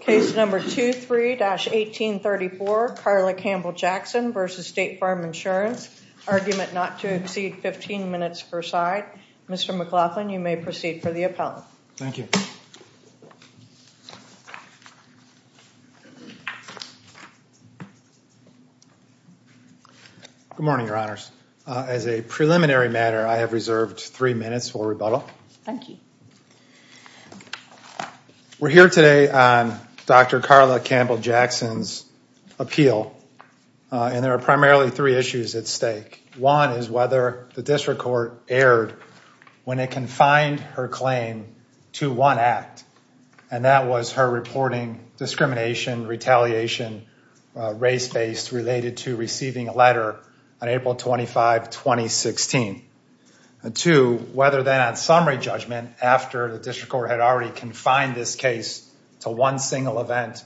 Case number 23-1834, Carla Campbell Jackson v. State Farm Insurance, argument not to exceed 15 minutes per side. Mr. McLaughlin, you may proceed for the appellant. Thank you. Good morning, your honors. As a preliminary matter, I have reserved three minutes for rebuttal. Thank you. We're here today on Dr. Carla Campbell Jackson's appeal, and there are primarily three issues at stake. One is whether the district court erred when it confined her claim to one act, and that was her reporting discrimination, retaliation, race-based related to receiving a letter on April 25, 2016. Two, whether then on summary judgment after the district court had already confined this case to one single event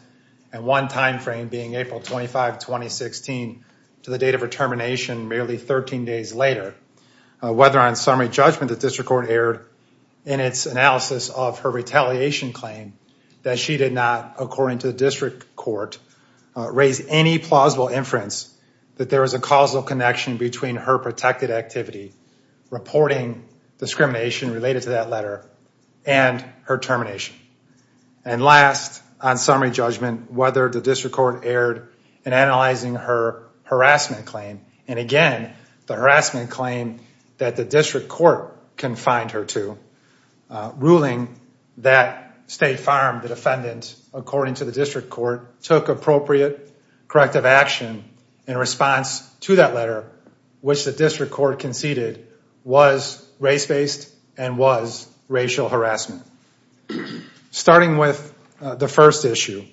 and one time frame being April 25, 2016 to the date of her termination merely 13 days later, whether on summary judgment the district court erred in its analysis of her retaliation claim that she did not, according to the district court, raise any plausible inference that there is a causal connection between her protected activity, reporting discrimination related to that letter, and her termination. And last, on summary judgment, whether the district court erred in analyzing her harassment claim, and again, the harassment claim that the district court confined her to, ruling that State Farm, the defendant, according to the district court, took appropriate corrective action in response to that letter, which the district court conceded was race-based and was racial harassment. Starting with the first issue,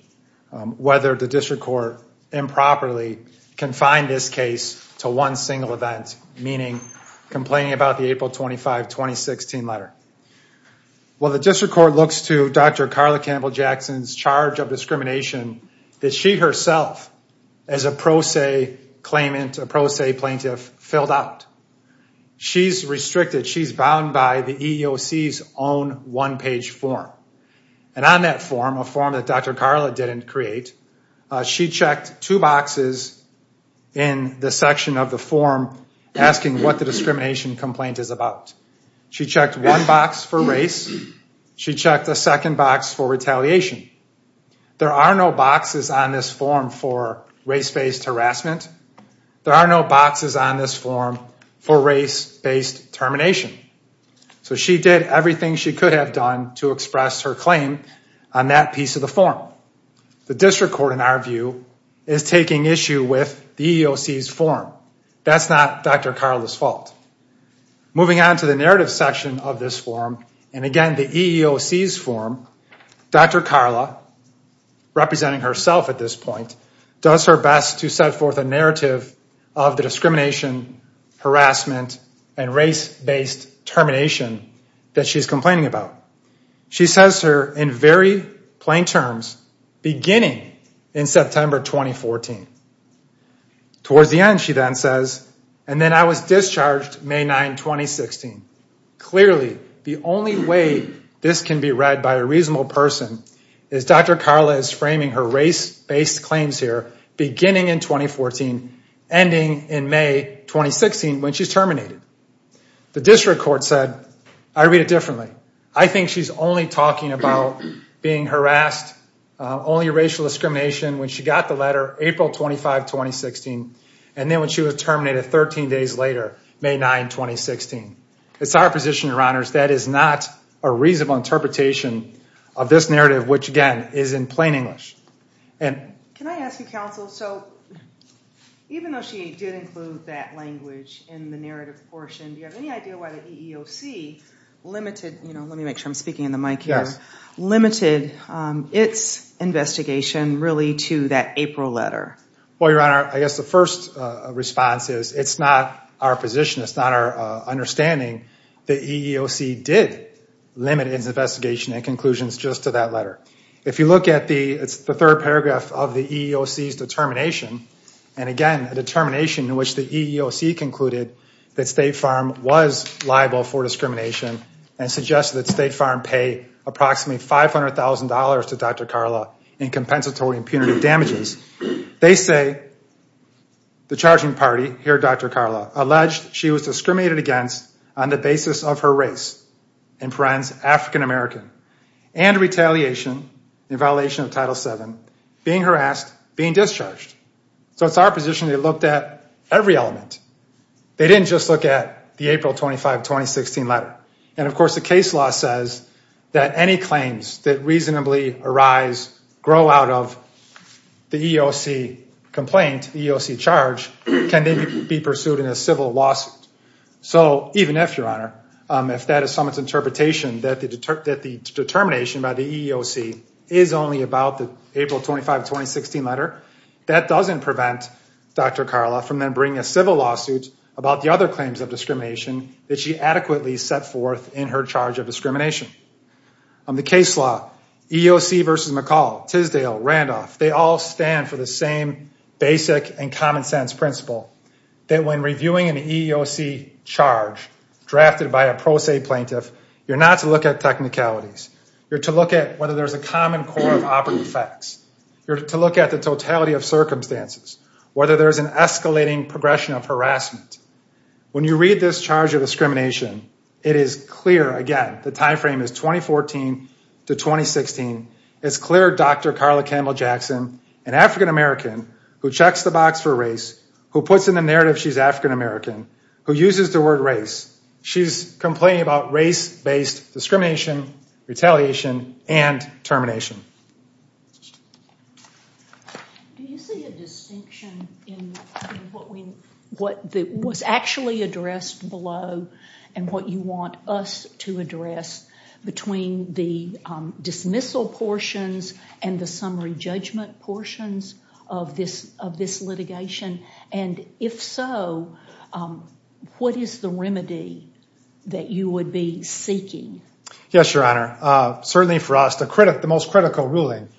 whether the district court improperly confined this case to one single event, meaning complaining about the April 25, 2016 letter. Well, the district court looks to Dr. Carla Campbell-Jackson's charge of discrimination that she herself, as a pro se claimant, a pro se plaintiff, filled out. She's restricted. She's bound by the EEOC's own one-page form. And on that form, a form that Dr. Carla didn't create, she checked two boxes in the section of the form asking what the discrimination complaint is about. She checked one box for race. She checked the second box for retaliation. There are no boxes on this form for race-based harassment. There are no boxes on this form for race-based termination. So she did everything she could have done to express her claim on that piece of the form. The district court, in our view, is taking issue with the EEOC's form. That's not Dr. Carla's fault. Moving on to the narrative section of this form, and again, the EEOC's form, Dr. Carla, representing herself at this point, does her best to set forth a narrative of the discrimination, harassment, and race-based termination that she's complaining about. She says her in very May 9, 2016. Clearly, the only way this can be read by a reasonable person is Dr. Carla is framing her race-based claims here beginning in 2014, ending in May 2016 when she's terminated. The district court said, I read it differently. I think she's only talking about being harassed, only racial discrimination when she got the letter April 25, 2016, and then when she was terminated 13 days later, May 9, 2016. It's our position, Your Honors, that is not a reasonable interpretation of this narrative, which, again, is in plain English. Can I ask you, counsel, so even though she did include that language in the narrative portion, do you have any idea why the EEOC limited, let me make sure I'm speaking in the mic here, limited its investigation really to that April letter? Well, Your Honor, I guess the first response is it's not our position. It's not our understanding that EEOC did limit its investigation and conclusions just to that letter. If you look at the third paragraph of the EEOC's determination, and again, a determination in which the EEOC concluded that State Farm was liable for discrimination and suggested that State Farm pay approximately $500,000 to Dr. Carla in compensatory and punitive damages, they say the charging party, here, Dr. Carla, alleged she was discriminated against on the basis of her race, in parens, African American, and retaliation in violation of Title VII, being harassed, being discharged. So it's our position they looked at every element. They didn't just look at the April 25, 2016 letter. And of course, the case law says that any claims that reasonably arise, grow out of the EEOC complaint, EEOC charge, can then be pursued in a civil lawsuit. So even if, Your Honor, if that is someone's interpretation that the determination by the EEOC is only about the April 25, 2016 letter, that doesn't prevent Dr. Carla from then bringing a civil lawsuit about the other claims of discrimination that she adequately set forth in her charge of discrimination. The case law, EEOC versus McCall, Tisdale, Randolph, they all stand for the same basic and common sense principle that when reviewing an EEOC charge drafted by a pro se plaintiff, you're not to look at technicalities. You're to look at whether there's a common core of operating facts. You're to look at the totality of circumstances, whether there's an escalating progression of harassment. When you read this charge of discrimination, it is clear, again, the timeframe is 2014 to 2016, it's clear Dr. Carla Campbell Jackson, an African American who checks the box for race, who puts in the narrative she's African American, who uses the word race, she's complaining about race based discrimination, retaliation, and termination. Do you see a distinction in what was actually addressed below and what you want us to address between the dismissal portions and the summary judgment portions of this litigation? And if so, what is the remedy that you would be seeking? Yes, Your Honor. Certainly for us, the most critical ruling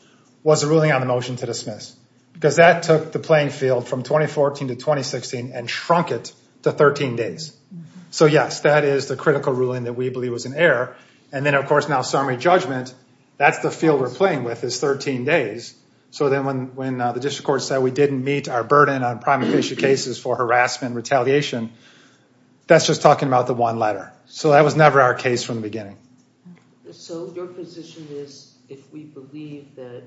was the ruling on the motion to dismiss because that took the playing field from 2014 to 2016 and shrunk it to 13 days. So yes, that is the critical ruling that we believe was in error. And then, of course, now summary judgment, that's the field we're playing with is 13 days. So then when the district court said we didn't meet our burden on prima facie cases for harassment and retaliation, that's just talking about the one letter. So that was never our case from the beginning. So your position is if we believe that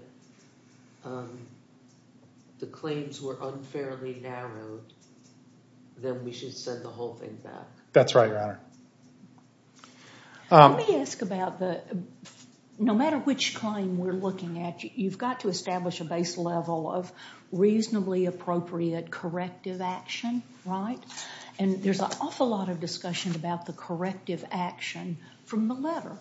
the claims were unfairly narrowed, then we should send the whole thing back? That's right, Your Honor. Let me ask about the, no matter which claim we're looking at, you've got to establish a base level of reasonably appropriate corrective action, right? And there's an awful lot of discussion about the corrective action from the letter.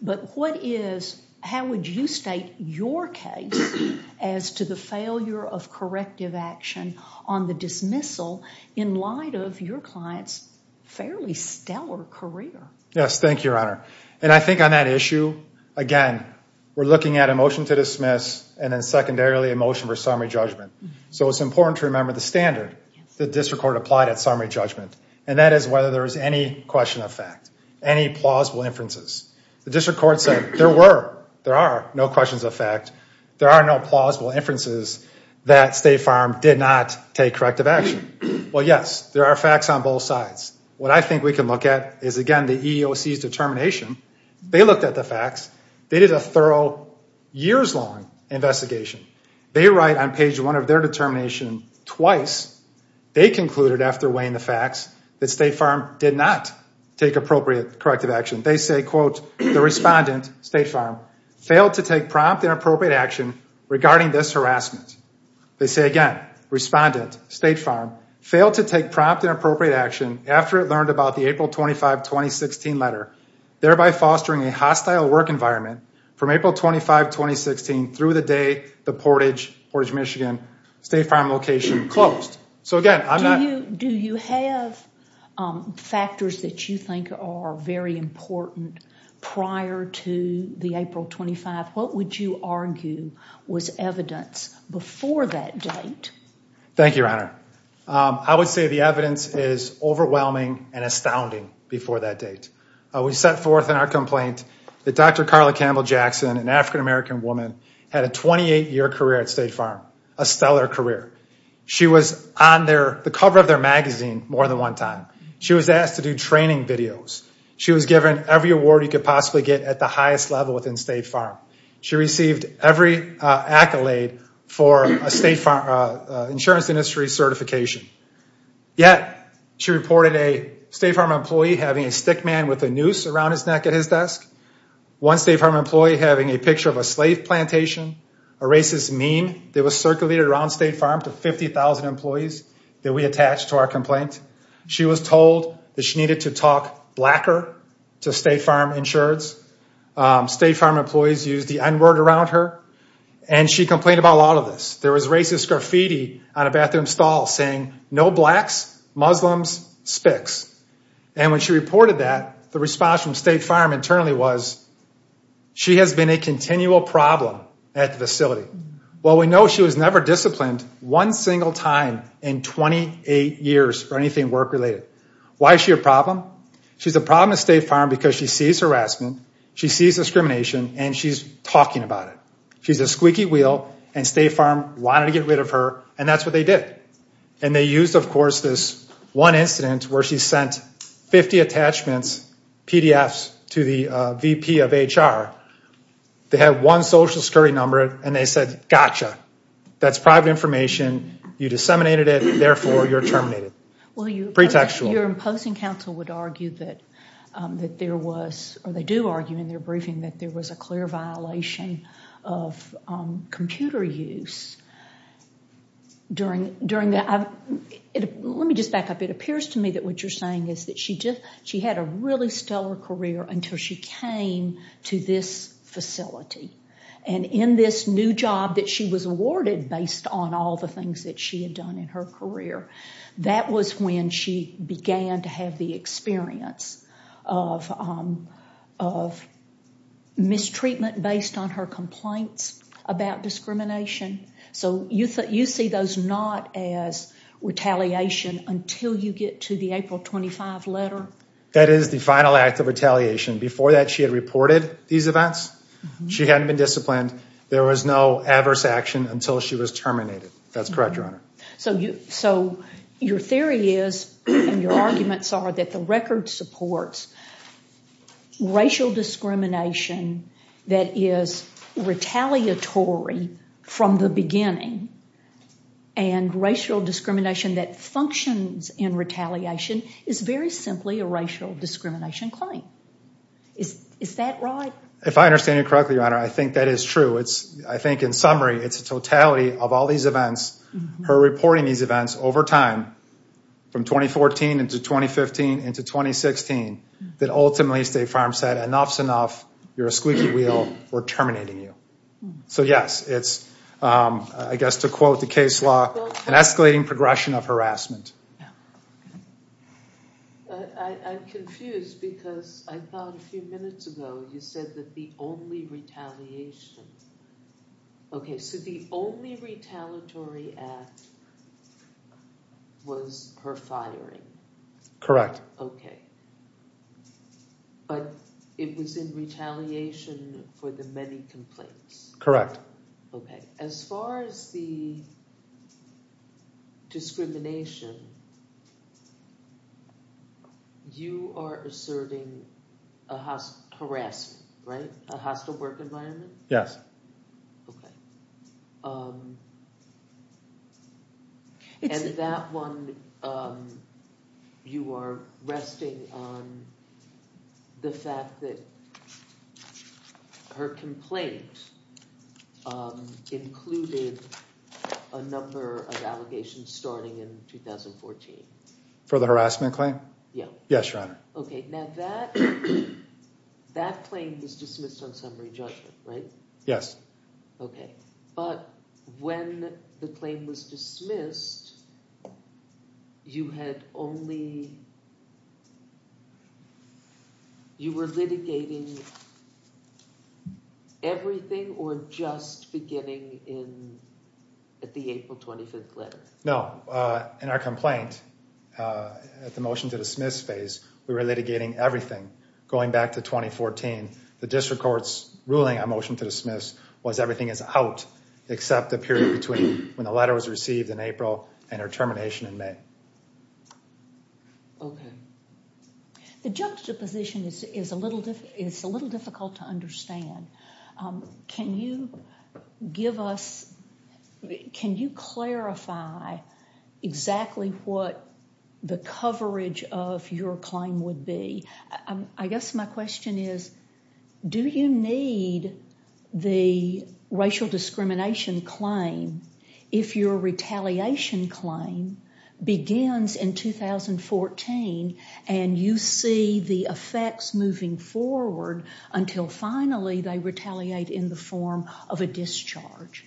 But what is, how would you state your case as to the failure of corrective action on the dismissal in light of your client's fairly stellar career? Yes, thank you, Your Honor. And I think on that issue, again, we're looking at a motion to dismiss and then secondarily a motion for summary judgment. So it's important to remember the standard the district court applied at summary judgment, and that is whether there is any question of fact, any plausible inferences. The district court said there were, there are no questions of fact, there are no plausible inferences that State Farm did not take corrective action. Well, yes, there are facts on both sides. What I think we can look at is, again, the EEOC's determination. They looked at the facts. They did a thorough years-long investigation. They write on page one of their determination twice, they concluded after weighing the facts, that State Farm did not take appropriate corrective action. They say, quote, the respondent, State Farm, failed to take prompt and appropriate action regarding this harassment. They say again, respondent, State Farm, failed to take prompt and appropriate action after it learned about the April 25, 2016 letter, thereby fostering a hostile work environment from April 25, 2016 through the day the Portage, Portage, Michigan, State Farm location closed. So again, I'm not... Do you, do you have factors that you think are very important prior to the April 25? What would you argue was evidence before that date? Thank you, Your Honor. I would say the evidence is overwhelming and astounding before that date. We set forth in our complaint that Dr. Carla Campbell Jackson, an African-American woman, had a 28-year career at State Farm, a stellar career. She was on their, the cover of their magazine more than one time. She was asked to do training videos. She was given every award you could possibly get at the highest level within State Farm. She received every accolade for a State Farm insurance industry certification. Yet, she reported a State Farm employee having a stick man with a noose around his neck at his desk, one State Farm employee having a picture of a slave plantation, a racist meme that was circulated around State Farm to 50,000 employees that we attached to our complaint. She was told that she needed to talk blacker to State Farm insureds. State Farm employees used the n-word around her, and she complained about a lot of this. There was the response from State Farm internally was, she has been a continual problem at the facility. Well, we know she was never disciplined one single time in 28 years or anything work-related. Why is she a problem? She's a problem at State Farm because she sees harassment, she sees discrimination, and she's talking about it. She's a squeaky wheel, and State Farm wanted to get rid of her, and that's what they did. And they used, of course, this one incident where she 50 attachments, PDFs, to the VP of HR. They had one social security number, and they said, gotcha, that's private information. You disseminated it, therefore you're terminated. Well, your imposing counsel would argue that there was, or they do argue in their briefing, that there was a clear violation of computer use during that. Let me just back up. It appears to me that what you're saying is that she had a really stellar career until she came to this facility. And in this new job that she was awarded based on all the things that she had done in her career, that was when she began to have the experience of mistreatment based on her complaints about discrimination. So you see those not as retaliation until you get to the April 25 letter? That is the final act of retaliation. Before that, she had reported these events. She hadn't been disciplined. There was no adverse action until she was terminated. That's correct, Your Honor. So your theory is, and your arguments are, that the record supports racial discrimination that is retaliatory from the beginning, and racial discrimination that functions in retaliation is very simply a racial discrimination claim. Is that right? If I understand you correctly, Your Honor, I think that is true. I think in summary, it's a totality of all these events, her reporting these events over time, from 2014 into 2015 into 2016, that ultimately State Farm said, enough's enough. You're a squeaky wheel. We're terminating you. So yes, it's, I guess, to quote the case law, an escalating progression of harassment. I'm confused because I thought a few minutes ago you said that the only retaliation, okay, so the only retaliatory act was her firing? Correct. Okay. But it was in retaliation for the many complaints? Correct. Okay. As far as the discrimination, you are asserting harassment, right? A hostile work environment? Yes. Okay. And that one, you are resting on the fact that her complaint included a number of allegations starting in 2014? For the harassment claim? Yeah. Yes, Your Honor. Okay. Now that claim was dismissed on summary judgment, right? Yes. Okay. But when the claim was dismissed, you had only, you were litigating everything or just beginning in, at the April 25th letter? No. In our complaint, at the motion to dismiss phase, we were litigating everything going back to 2014. The district court's ruling on motion to dismiss was everything is out, except the period between when the letter was received in April and her termination in May. Okay. The juxtaposition is a little difficult to understand. Can you give us, can you clarify exactly what the coverage of your claim would be? I guess my question is, do you need the racial discrimination claim if your retaliation claim begins in 2014 and you see the effects moving forward until finally they retaliate in the form of a discharge?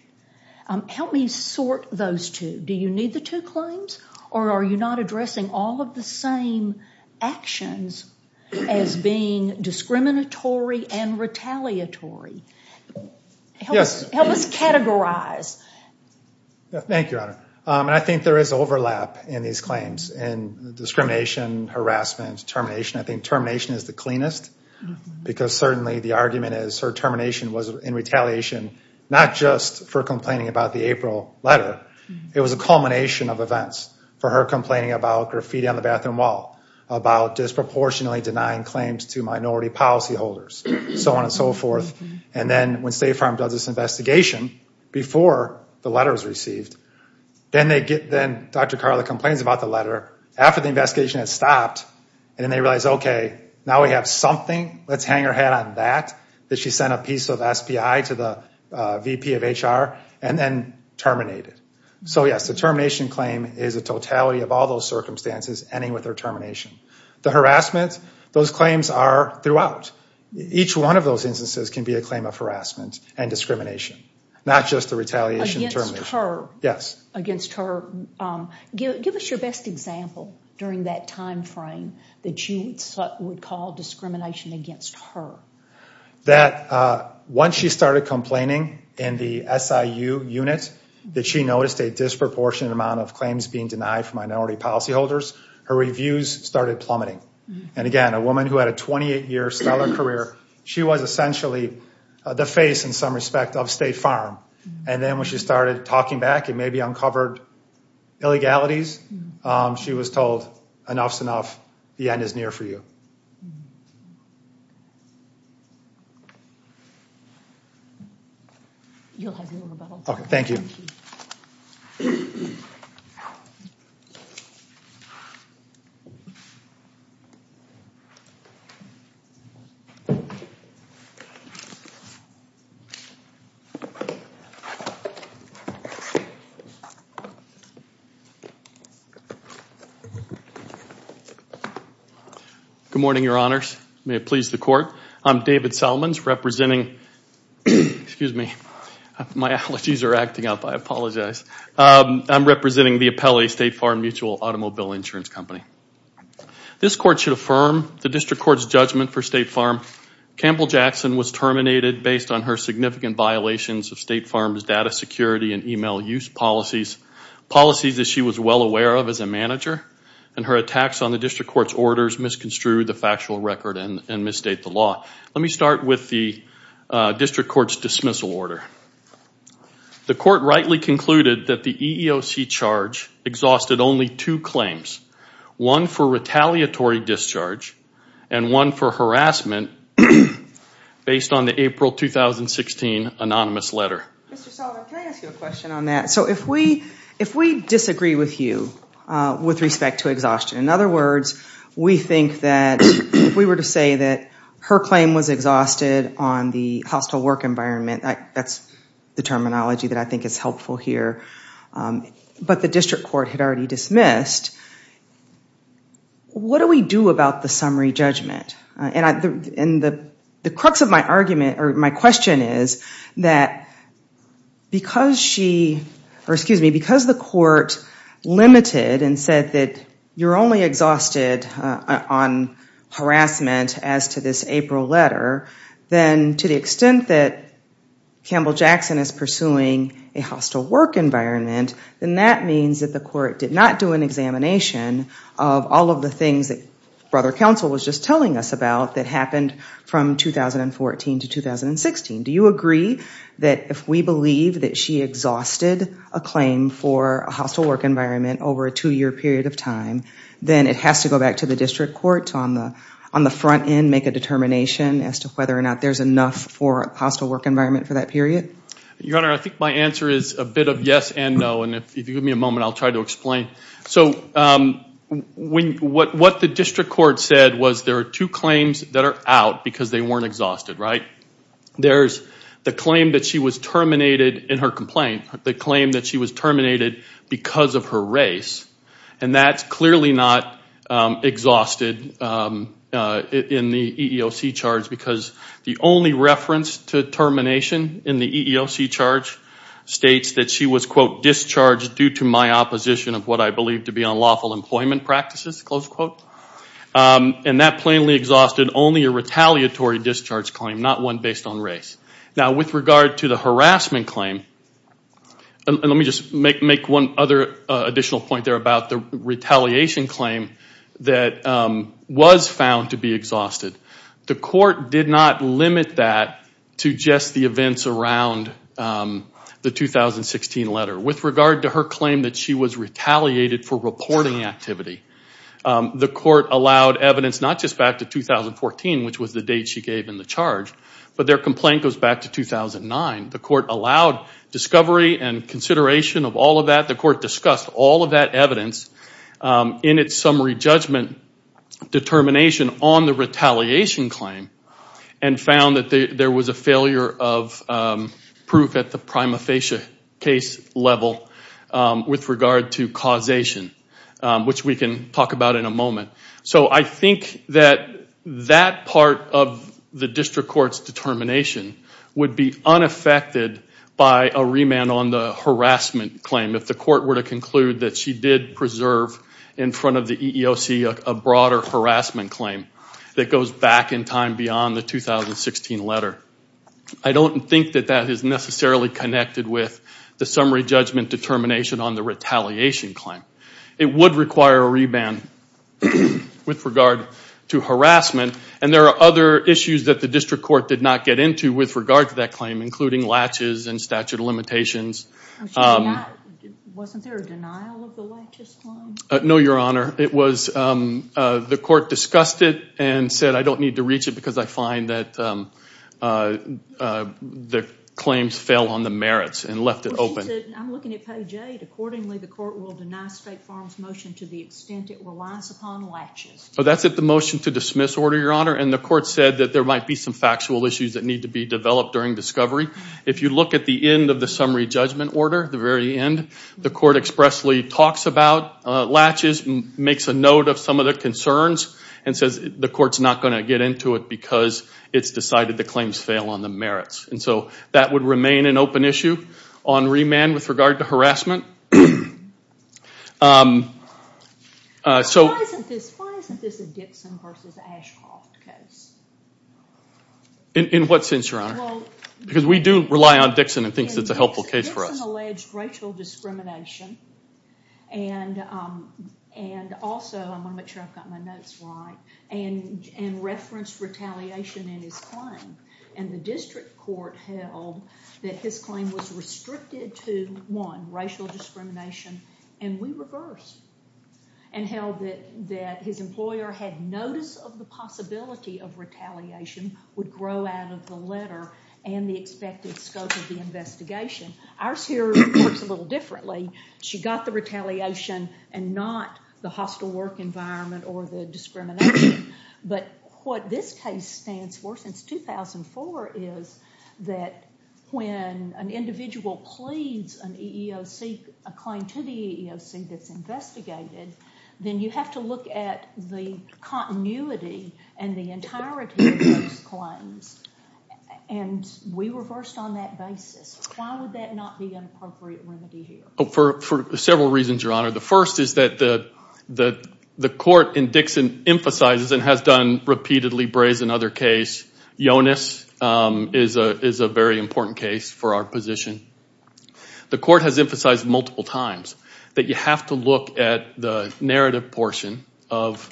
Help me sort those two. Do you need the two claims or are you not addressing all of the same actions as being discriminatory and retaliatory? Help us categorize. Thank you, Honor. And I think there is overlap in these claims and discrimination, harassment, termination. I think termination is the cleanest because certainly the argument is her termination was in retaliation, not just for complaining about the April letter. It was a culmination of events for her complaining about graffiti on the bathroom wall, about disproportionately denying claims to minority policy holders, so on and so forth. And then when State Farm does this investigation before the letter was received, then Dr. Carla complains about the letter after the investigation has stopped and then they realize, okay, now we have something. Let's hang her head on that, that she sent a piece of SPI to the VP of HR and then terminate it. So yes, the termination claim is a totality of all those circumstances ending with her termination. The harassment, those claims are throughout. Each one of those instances can be a claim of harassment and discrimination, not just the retaliation and termination. Against her. Yes. Against her. Give us your best example during that time frame that you would call discrimination against her. That once she started complaining in the SIU unit that she noticed a disproportionate amount of claims being denied for minority policy holders, her reviews started plummeting. And again, a woman who had a 28-year stellar career, she was essentially the face in some respect of State Farm. And then when she started talking back and maybe uncovered illegalities, she was told enough's enough. The end is near for you. You'll have your rebuttal. Okay. Thank you. Good morning, your honors. May it please the court. I'm David Salmons representing, excuse me, my allergies are acting up. I apologize. I'm representing the Apelli State Farm Mutual Automobile Insurance Company. This court should affirm the district court's judgment for State Farm. Campbell Jackson was terminated based on her significant violations of State Farm's data security and email use policies. We are here today to affirm the policies that she was well aware of as a manager and her attacks on the district court's orders misconstrued the factual record and misstate the law. Let me start with the district court's dismissal order. The court rightly concluded that the EEOC charge exhausted only two claims, one for retaliatory discharge and one for harassment based on the April 2016 anonymous letter. Mr. Solomon, can I ask you a question on that? If we disagree with you with respect to exhaustion, in other words, we think that if we were to say that her claim was exhausted on the hostile work environment, that's the terminology that I think is helpful here, but the district court had already dismissed, what do we do about the summary judgment? The crux of my argument or my question is that because the court limited and said that you're only exhausted on harassment as to this April letter, then to the extent that Campbell Jackson is pursuing a hostile work environment, then that means that the court did not do an examination of all of the things that counsel was just telling us about that happened from 2014 to 2016. Do you agree that if we believe that she exhausted a claim for a hostile work environment over a two-year period of time, then it has to go back to the district court on the front end, make a determination as to whether or not there's enough for a hostile work environment for that period? Your Honor, I think my answer is a bit of yes and no and if you give me a moment, I'll try to explain. So what the district court said was there are two claims that are out because they weren't exhausted, right? There's the claim that she was terminated in her complaint, the claim that she was terminated because of her race, and that's clearly not exhausted in the EEOC charge because the only reference to termination in the EEOC charge states that she was, quote, discharged due to my opposition of what I believe to be unlawful employment practices, close quote, and that plainly exhausted only a retaliatory discharge claim, not one based on race. Now with regard to the harassment claim, and let me just make one other additional point there about the retaliation claim that was found to be exhausted, the court did not limit that to the events around the 2016 letter. With regard to her claim that she was retaliated for reporting activity, the court allowed evidence not just back to 2014, which was the date she gave in the charge, but their complaint goes back to 2009. The court allowed discovery and consideration of all of that. The court discussed all of that evidence in its summary judgment determination on the failure of proof at the prima facie case level with regard to causation, which we can talk about in a moment. So I think that that part of the district court's determination would be unaffected by a remand on the harassment claim if the court were to conclude that she did preserve in front of the EEOC a broader harassment claim that goes back in time beyond the 2016 letter. I don't think that that is necessarily connected with the summary judgment determination on the retaliation claim. It would require a remand with regard to harassment, and there are other issues that the district court did not get into with regard to that claim, including latches and statute of limitations. Wasn't there a denial of the latches claim? No, your honor. The court discussed it and said I don't need to reach it because I find that the claims fell on the merits and left it open. I'm looking at page eight. Accordingly, the court will deny State Farm's motion to the extent it relies upon latches. That's at the motion to dismiss order, your honor, and the court said that there might be some factual issues that need to be the very end. The court expressly talks about latches, makes a note of some of the concerns, and says the court's not going to get into it because it's decided the claims fail on the merits. And so that would remain an open issue on remand with regard to harassment. So why isn't this a Dixon versus Ashcroft case? In what sense, your honor? Because we do rely on Dixon and think that's a helpful case for us. Dixon alleged racial discrimination and also, I want to make sure I've got my notes right, and referenced retaliation in his claim. And the district court held that his claim was restricted to one, racial discrimination, and we reversed and held that his employer had notice of the possibility of retaliation would grow out of the letter and the expected scope of the investigation. Ours here works a little differently. She got the retaliation and not the hostile work environment or the discrimination. But what this case stands for since 2004 is that when an individual pleads an EEOC, a claim to the EEOC that's investigated, then you have to look at the continuity and the clarity of those claims. And we reversed on that basis. Why would that not be an appropriate remedy here? For several reasons, your honor. The first is that the court in Dixon emphasizes and has done repeatedly brazen other case. Yonis is a very important case for our position. The court has emphasized multiple times that you have to look at the narrative portion of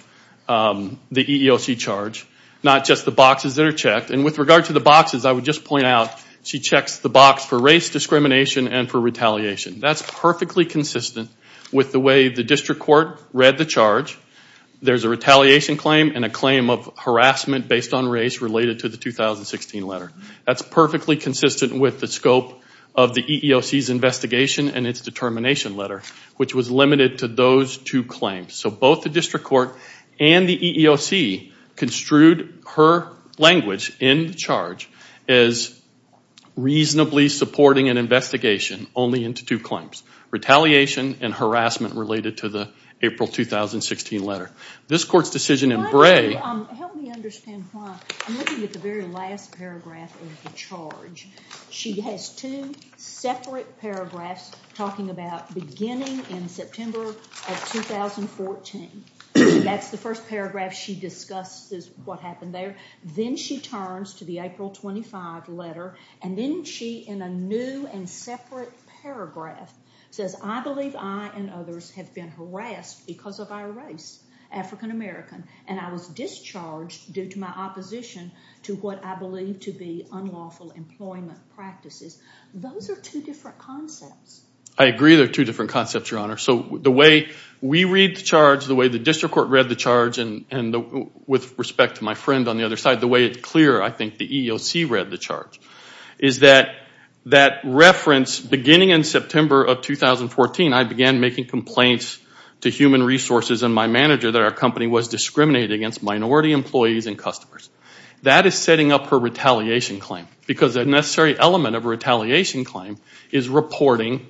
the EEOC charge, not just the boxes that are checked. And with regard to the boxes, I would just point out she checks the box for race discrimination and for retaliation. That's perfectly consistent with the way the district court read the charge. There's a retaliation claim and a claim of harassment based on race related to the 2016 letter. That's perfectly consistent with the scope of the EEOC's investigation and its determination letter, which was limited to those two claims. So both the district court and the EEOC construed her language in the charge as reasonably supporting an investigation only into two claims, retaliation and harassment related to the April 2016 letter. This court's decision in Bray... Help me understand why. I'm looking at the very last paragraph of the charge. She has two separate paragraphs talking about beginning in September of 2014. That's the first paragraph she discusses what happened there. Then she turns to the April 25 letter and then she, in a new and separate paragraph, says, I believe I and others have been harassed because of our race, African American, and I was discharged due to my opposition to what I believe to be unlawful employment practices. Those are two different concepts. I agree they're two different concepts, your honor. So the way we read the charge, the way the district court read the charge, and with respect to my friend on the other side, the way it's clear I think the EEOC read the charge is that that reference, beginning in September of 2014, I began making complaints to human resources and my manager that our company was discriminated against minority employees and customers. That is setting up her retaliation claim because a element of a retaliation claim is reporting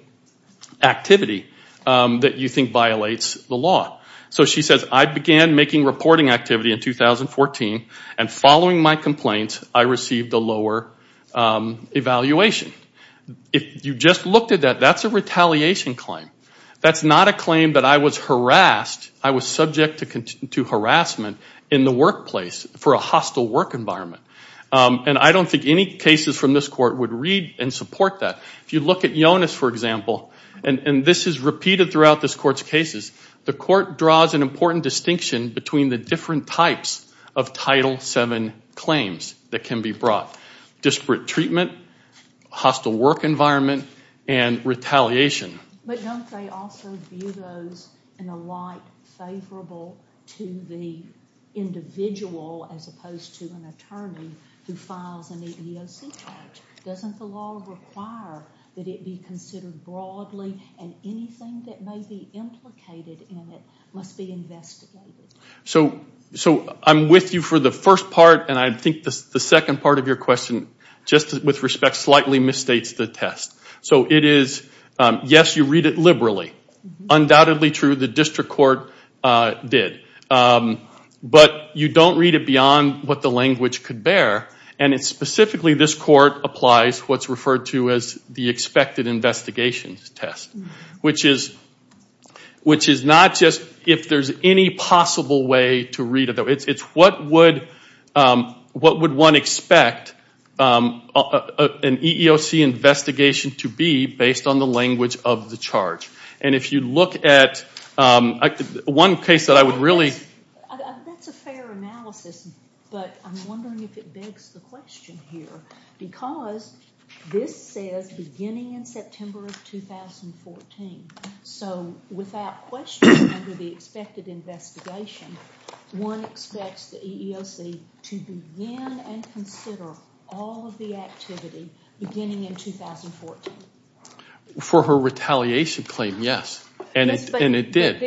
activity that you think violates the law. So she says I began making reporting activity in 2014 and following my complaints I received a lower evaluation. If you just looked at that, that's a retaliation claim. That's not a claim that I was harassed. I was subject to harassment in the workplace for a hostile work environment. And I don't think any cases from this court would read and support that. If you look at Jonas, for example, and this is repeated throughout this court's cases, the court draws an important distinction between the different types of Title VII claims that can be brought. Disparate treatment, hostile work environment, and retaliation. But don't they also view those in a light favorable to the individual as opposed to an attorney who files an EEOC charge? Doesn't the law require that it be considered broadly and anything that may be implicated in it must be investigated? So I'm with you for the first part and I think the second part of your question, just with respect, slightly misstates the test. So it is, yes, you read it liberally. Undoubtedly true, the district court did. But you don't read it beyond what the language could bear. And it's specifically, this court applies what's referred to as the expected investigations test, which is not just if there's any possible way to read it. It's what would one expect an EEOC investigation to be based on the language of the charge. And if you look at one case that I would really... That's a fair analysis, but I'm wondering if it begs the question here because this says beginning in September of 2014. So without question under the expected investigation, one expects the EEOC to begin and consider all of the activity beginning in 2014. For her retaliation claim, yes, and it did.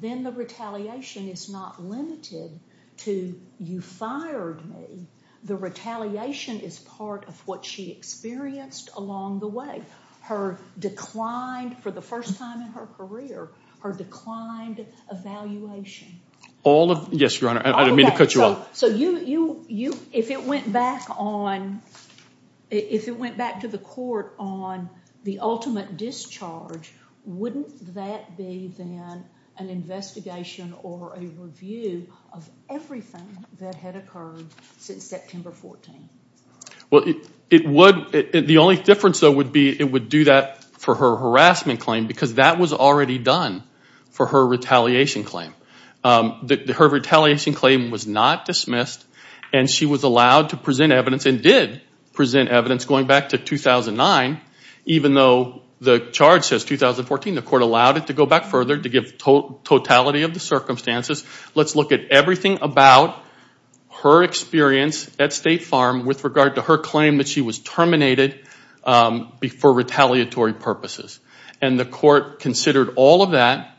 Then the retaliation is not limited to you fired me. The retaliation is part of what she experienced along the way. Her declined, for the first time in her career, her declined evaluation. All of, yes, Your Honor, I didn't mean to cut you off. So you, if it went back on, if it went back to the court on the ultimate discharge, wouldn't that be then an investigation or a review of everything that had occurred since September 14? Well, it would. The only difference, though, would be it would do that for her harassment claim because that was already done for her retaliation claim. Her retaliation claim was not dismissed and she was allowed to present evidence and did present evidence going back to 2009, even though the charge says 2014. The court allowed it to go back further to give totality of the circumstances. Let's look at everything about her experience at State Farm with regard to her claim that she was terminated for retaliatory purposes. And the court considered all of that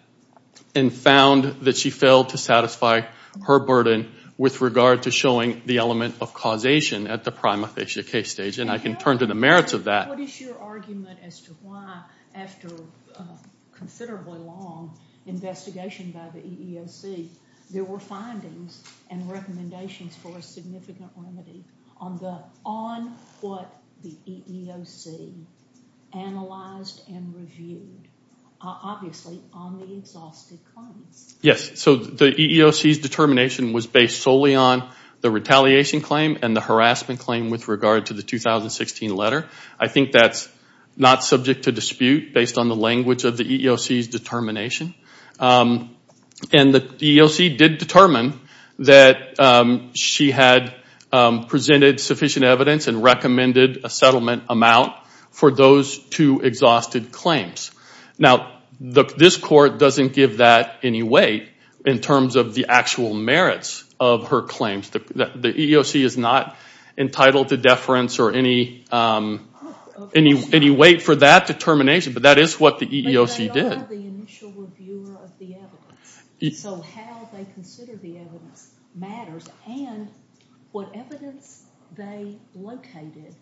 and found that she failed to satisfy her burden with regard to showing the element of causation at the prima facie case stage. And I can turn to the merits of that. What is your argument as to why, after a considerably long investigation by the EEOC, there were findings and recommendations for a significant remedy on what the EEOC analyzed and reviewed, obviously on the exhausted claims? Yes, so the EEOC's determination was based solely on the retaliation claim and the harassment claim with regard to the 2016 letter. I think that's not subject to dispute based on the language of the EEOC's determination. And the EEOC did determine that she had presented sufficient evidence and recommended a settlement amount for those two exhausted claims. Now, this court doesn't give that any weight in terms of the actual merits of her claims. The EEOC is not entitled to deference or any weight for that determination, but that is what the EEOC did. But they are the initial reviewer of the evidence, so how they consider the evidence matters and what evidence they located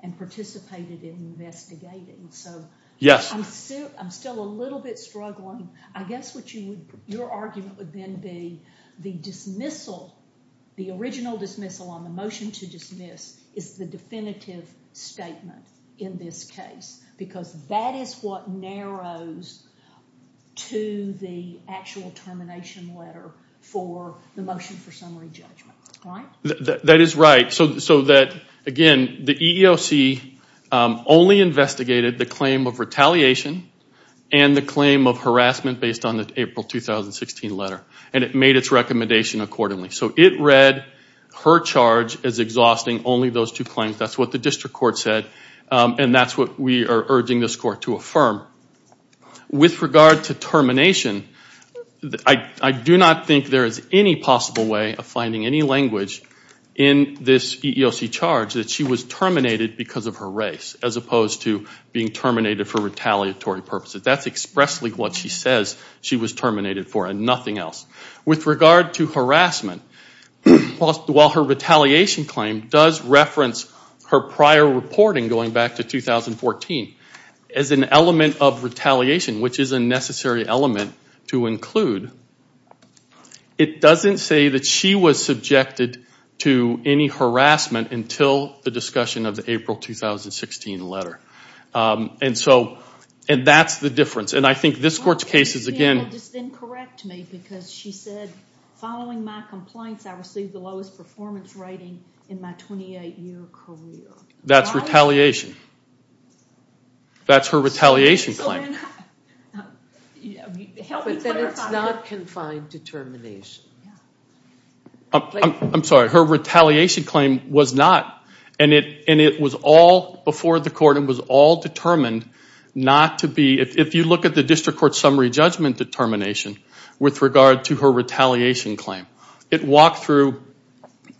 and participated in investigating. So, I'm still a little bit struggling. I guess what your argument would then be, the dismissal, the original dismissal on the motion to dismiss, is the definitive statement in this case, because that is what narrows to the actual termination letter for the motion for summary judgment, right? That is right. So that, again, the EEOC only investigated the claim of retaliation and the claim of harassment based on the April 2016 letter, and it made its recommendation accordingly. So it read her charge as exhausting only those two claims. That's what the district court said, and that's what we are urging this court to affirm. With regard to termination, I do not think there is any possible way of finding any language in this EEOC charge that she was terminated because of her race as opposed to being terminated for retaliatory purposes. That's expressly what she says she was terminated for and nothing else. With regard to harassment, while her retaliation claim does reference her prior reporting going back to 2014 as an element of retaliation, which is a necessary element to include, it doesn't say that she was subjected to any harassment until the discussion of the April 2016 letter. And so, and that's the difference. And I think this court's case is again... Well, just then correct me because she said, following my complaints, I received the lowest performance rating in my 28-year career. That's retaliation. That's her retaliation claim. But then it's not confined to termination. I'm sorry. Her retaliation claim was not, and it was all before the court and was all determined not to be... If you look at the district court summary judgment determination with regard to her retaliation claim, it walked through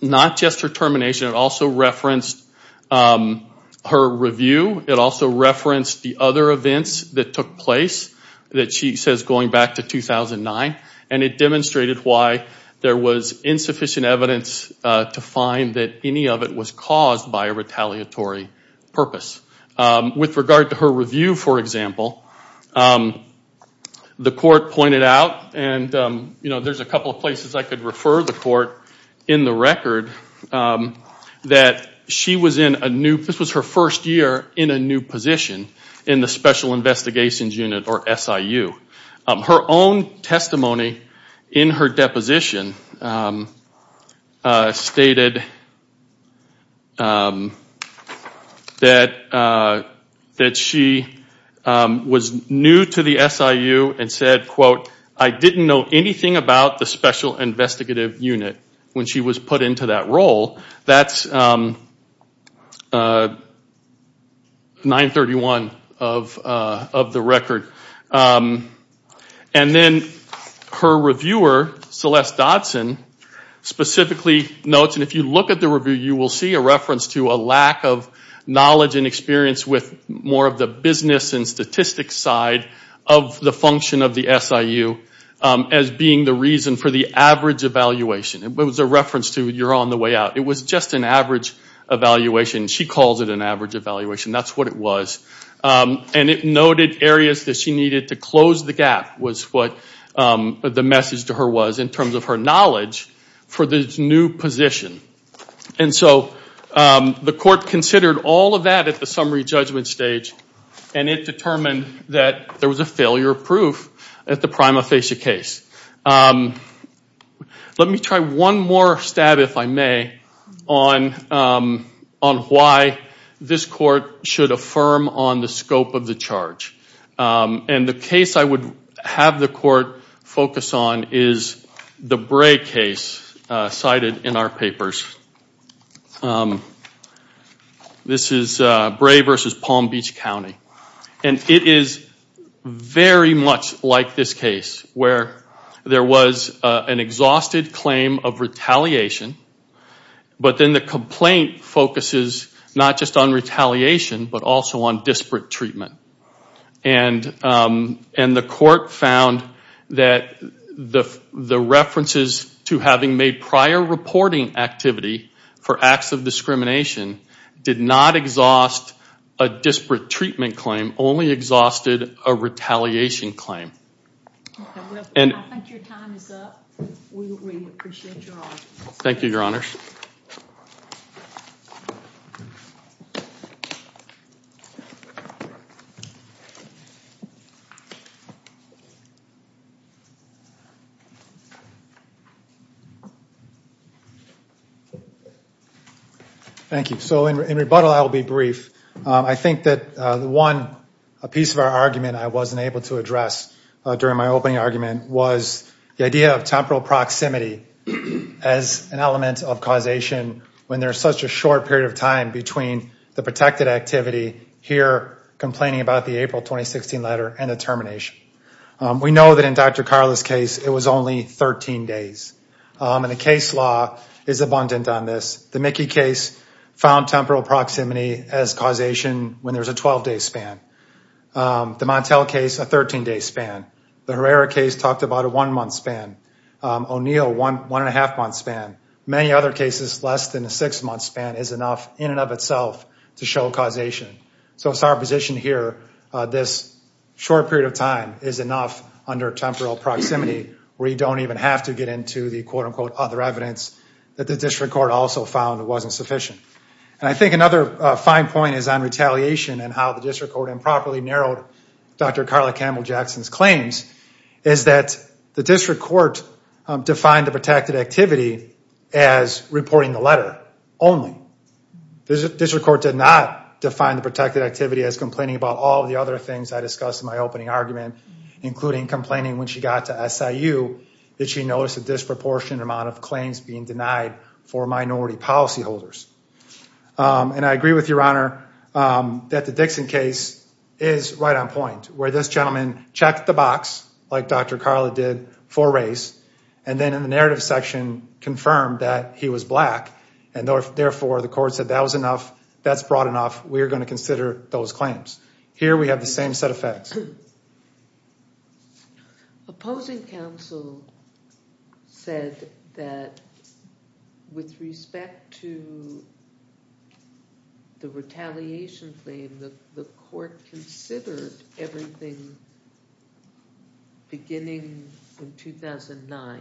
not just her termination, it also referenced her review. It also referenced the other events that took place that she says going back to 2009. And it demonstrated why there was insufficient evidence to find that any of it was caused by a retaliatory purpose. With regard to her review, for example, the court pointed out and, you know, there's a couple of places I could refer the court in the record that she was in a new... This was her first year in a new position in the Special Investigations Unit or SIU. Her own testimony in her deposition stated that she was new to the SIU and said, quote, I didn't know anything about the Special Investigative Unit when she was put into that role. That's 931 of the record. And then her reviewer, Celeste Dodson, specifically notes, and if you look at the review you will see a reference to a lack of knowledge and experience with more of the business and statistics side of the function of the SIU as being the reason for the average evaluation. It was a reference to you're on the way out. It was just an average evaluation. She calls it an average evaluation. That's what it was. And it noted areas that she needed to close the gap was what the message to her was in terms of her knowledge for this new position. And so the court considered all of that at the summary judgment stage and it determined that there was a failure of proof at the prima facie case. Let me try one more stab, if I may, on why this court should affirm on the scope of the charge. And the case I would have the court focus on is the Bray case cited in our papers. This is Bray v. Palm Beach County. And it is very much like this case where there was an exhausted claim of retaliation, but then the complaint focuses not just on retaliation, but also on disparate treatment. And the court found that the references to having made prior reporting activity for acts of discrimination did not exhaust a disparate treatment claim, only exhausted a retaliation claim. I think your time is up. We appreciate your honors. Thank you, your honors. Thank you. So in rebuttal, I will be brief. I think that one piece of our argument I wasn't able to address during my opening argument was the idea of temporal proximity as an element of causation when there's such a short period of time between the protected activity here, complaining about the April 2016 letter, and the termination. We know that in Dr. Carla's case, it was only 13 days. And the case law is abundant on this. The Mickey case found temporal proximity as causation when there's a 12-day span. The Montel case, a 13-day span. The Herrera case talked about a one-month span. O'Neill, one-and-a-half-month span. Many other cases, less than a six-month span is enough in and of itself to show causation. So it's our position here, this short period of time is enough under temporal proximity where you don't even have to get into the quote-unquote other evidence that the district court also found wasn't sufficient. And I think another fine point is on retaliation and how the district court improperly narrowed Dr. Carla Campbell-Jackson's claims is that the district court defined the protected activity as reporting the letter only. The district court did not define the protected activity as complaining about all of the other things I discussed in my opening argument, including complaining when she got to SIU that she noticed a disproportionate amount of claims being denied for minority policyholders. And I agree with your honor that the Dixon case is right on point. Where this gentleman checked the box like Dr. Carla did for race and then in the narrative section confirmed that he was black and therefore the court said that was enough, that's broad enough, we're going to consider those claims. Here we have the same set of facts. Opposing counsel said that with respect to the retaliation claim, the court considered everything beginning in 2009.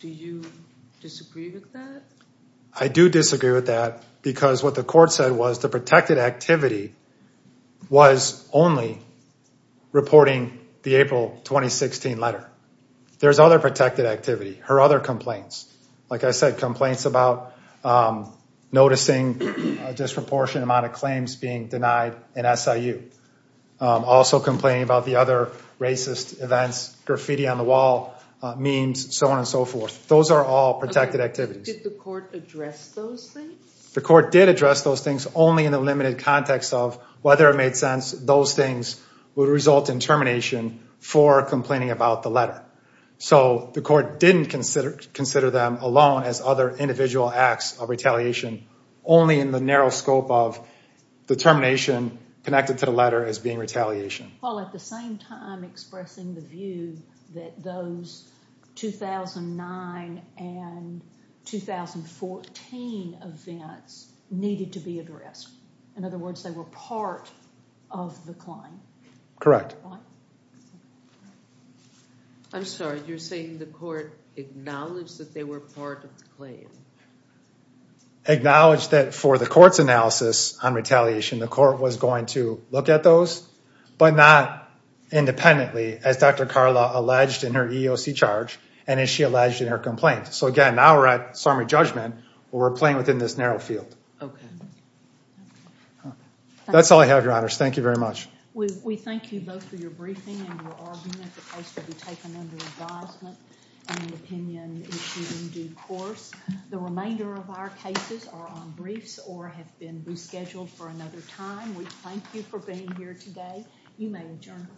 Do you disagree with that? I do disagree with that because what the court said was the protected activity was only reporting the April 2016 letter. There's other protected activity, her other complaints, like I said complaints about noticing a disproportionate amount of claims being denied in SIU. Also complaining about the other racist events, graffiti on the wall, memes, so on and so forth. Those are all protected activities. Did the court address those things? The court did address those things only in the limited context of whether it made sense those would result in termination for complaining about the letter. So the court didn't consider them alone as other individual acts of retaliation only in the narrow scope of the termination connected to the letter as being retaliation. While at the same time expressing the view that those 2009 and 2014 events needed to be addressed. In other words, they were part of the claim. Correct. I'm sorry, you're saying the court acknowledged that they were part of the claim? Acknowledged that for the court's analysis on retaliation, the court was going to look at those but not independently as Dr. Carla alleged in her EEOC charge and as she alleged in her complaint. So again, now we're at summary judgment where we're playing within this narrow field. Okay. That's all I have, Your Honors. Thank you very much. We thank you both for your briefing and your argument. The case will be taken under advisement and the opinion issued in due course. The remainder of our cases are on briefs or have been rescheduled for another time. We thank you for being here today. You may adjourn.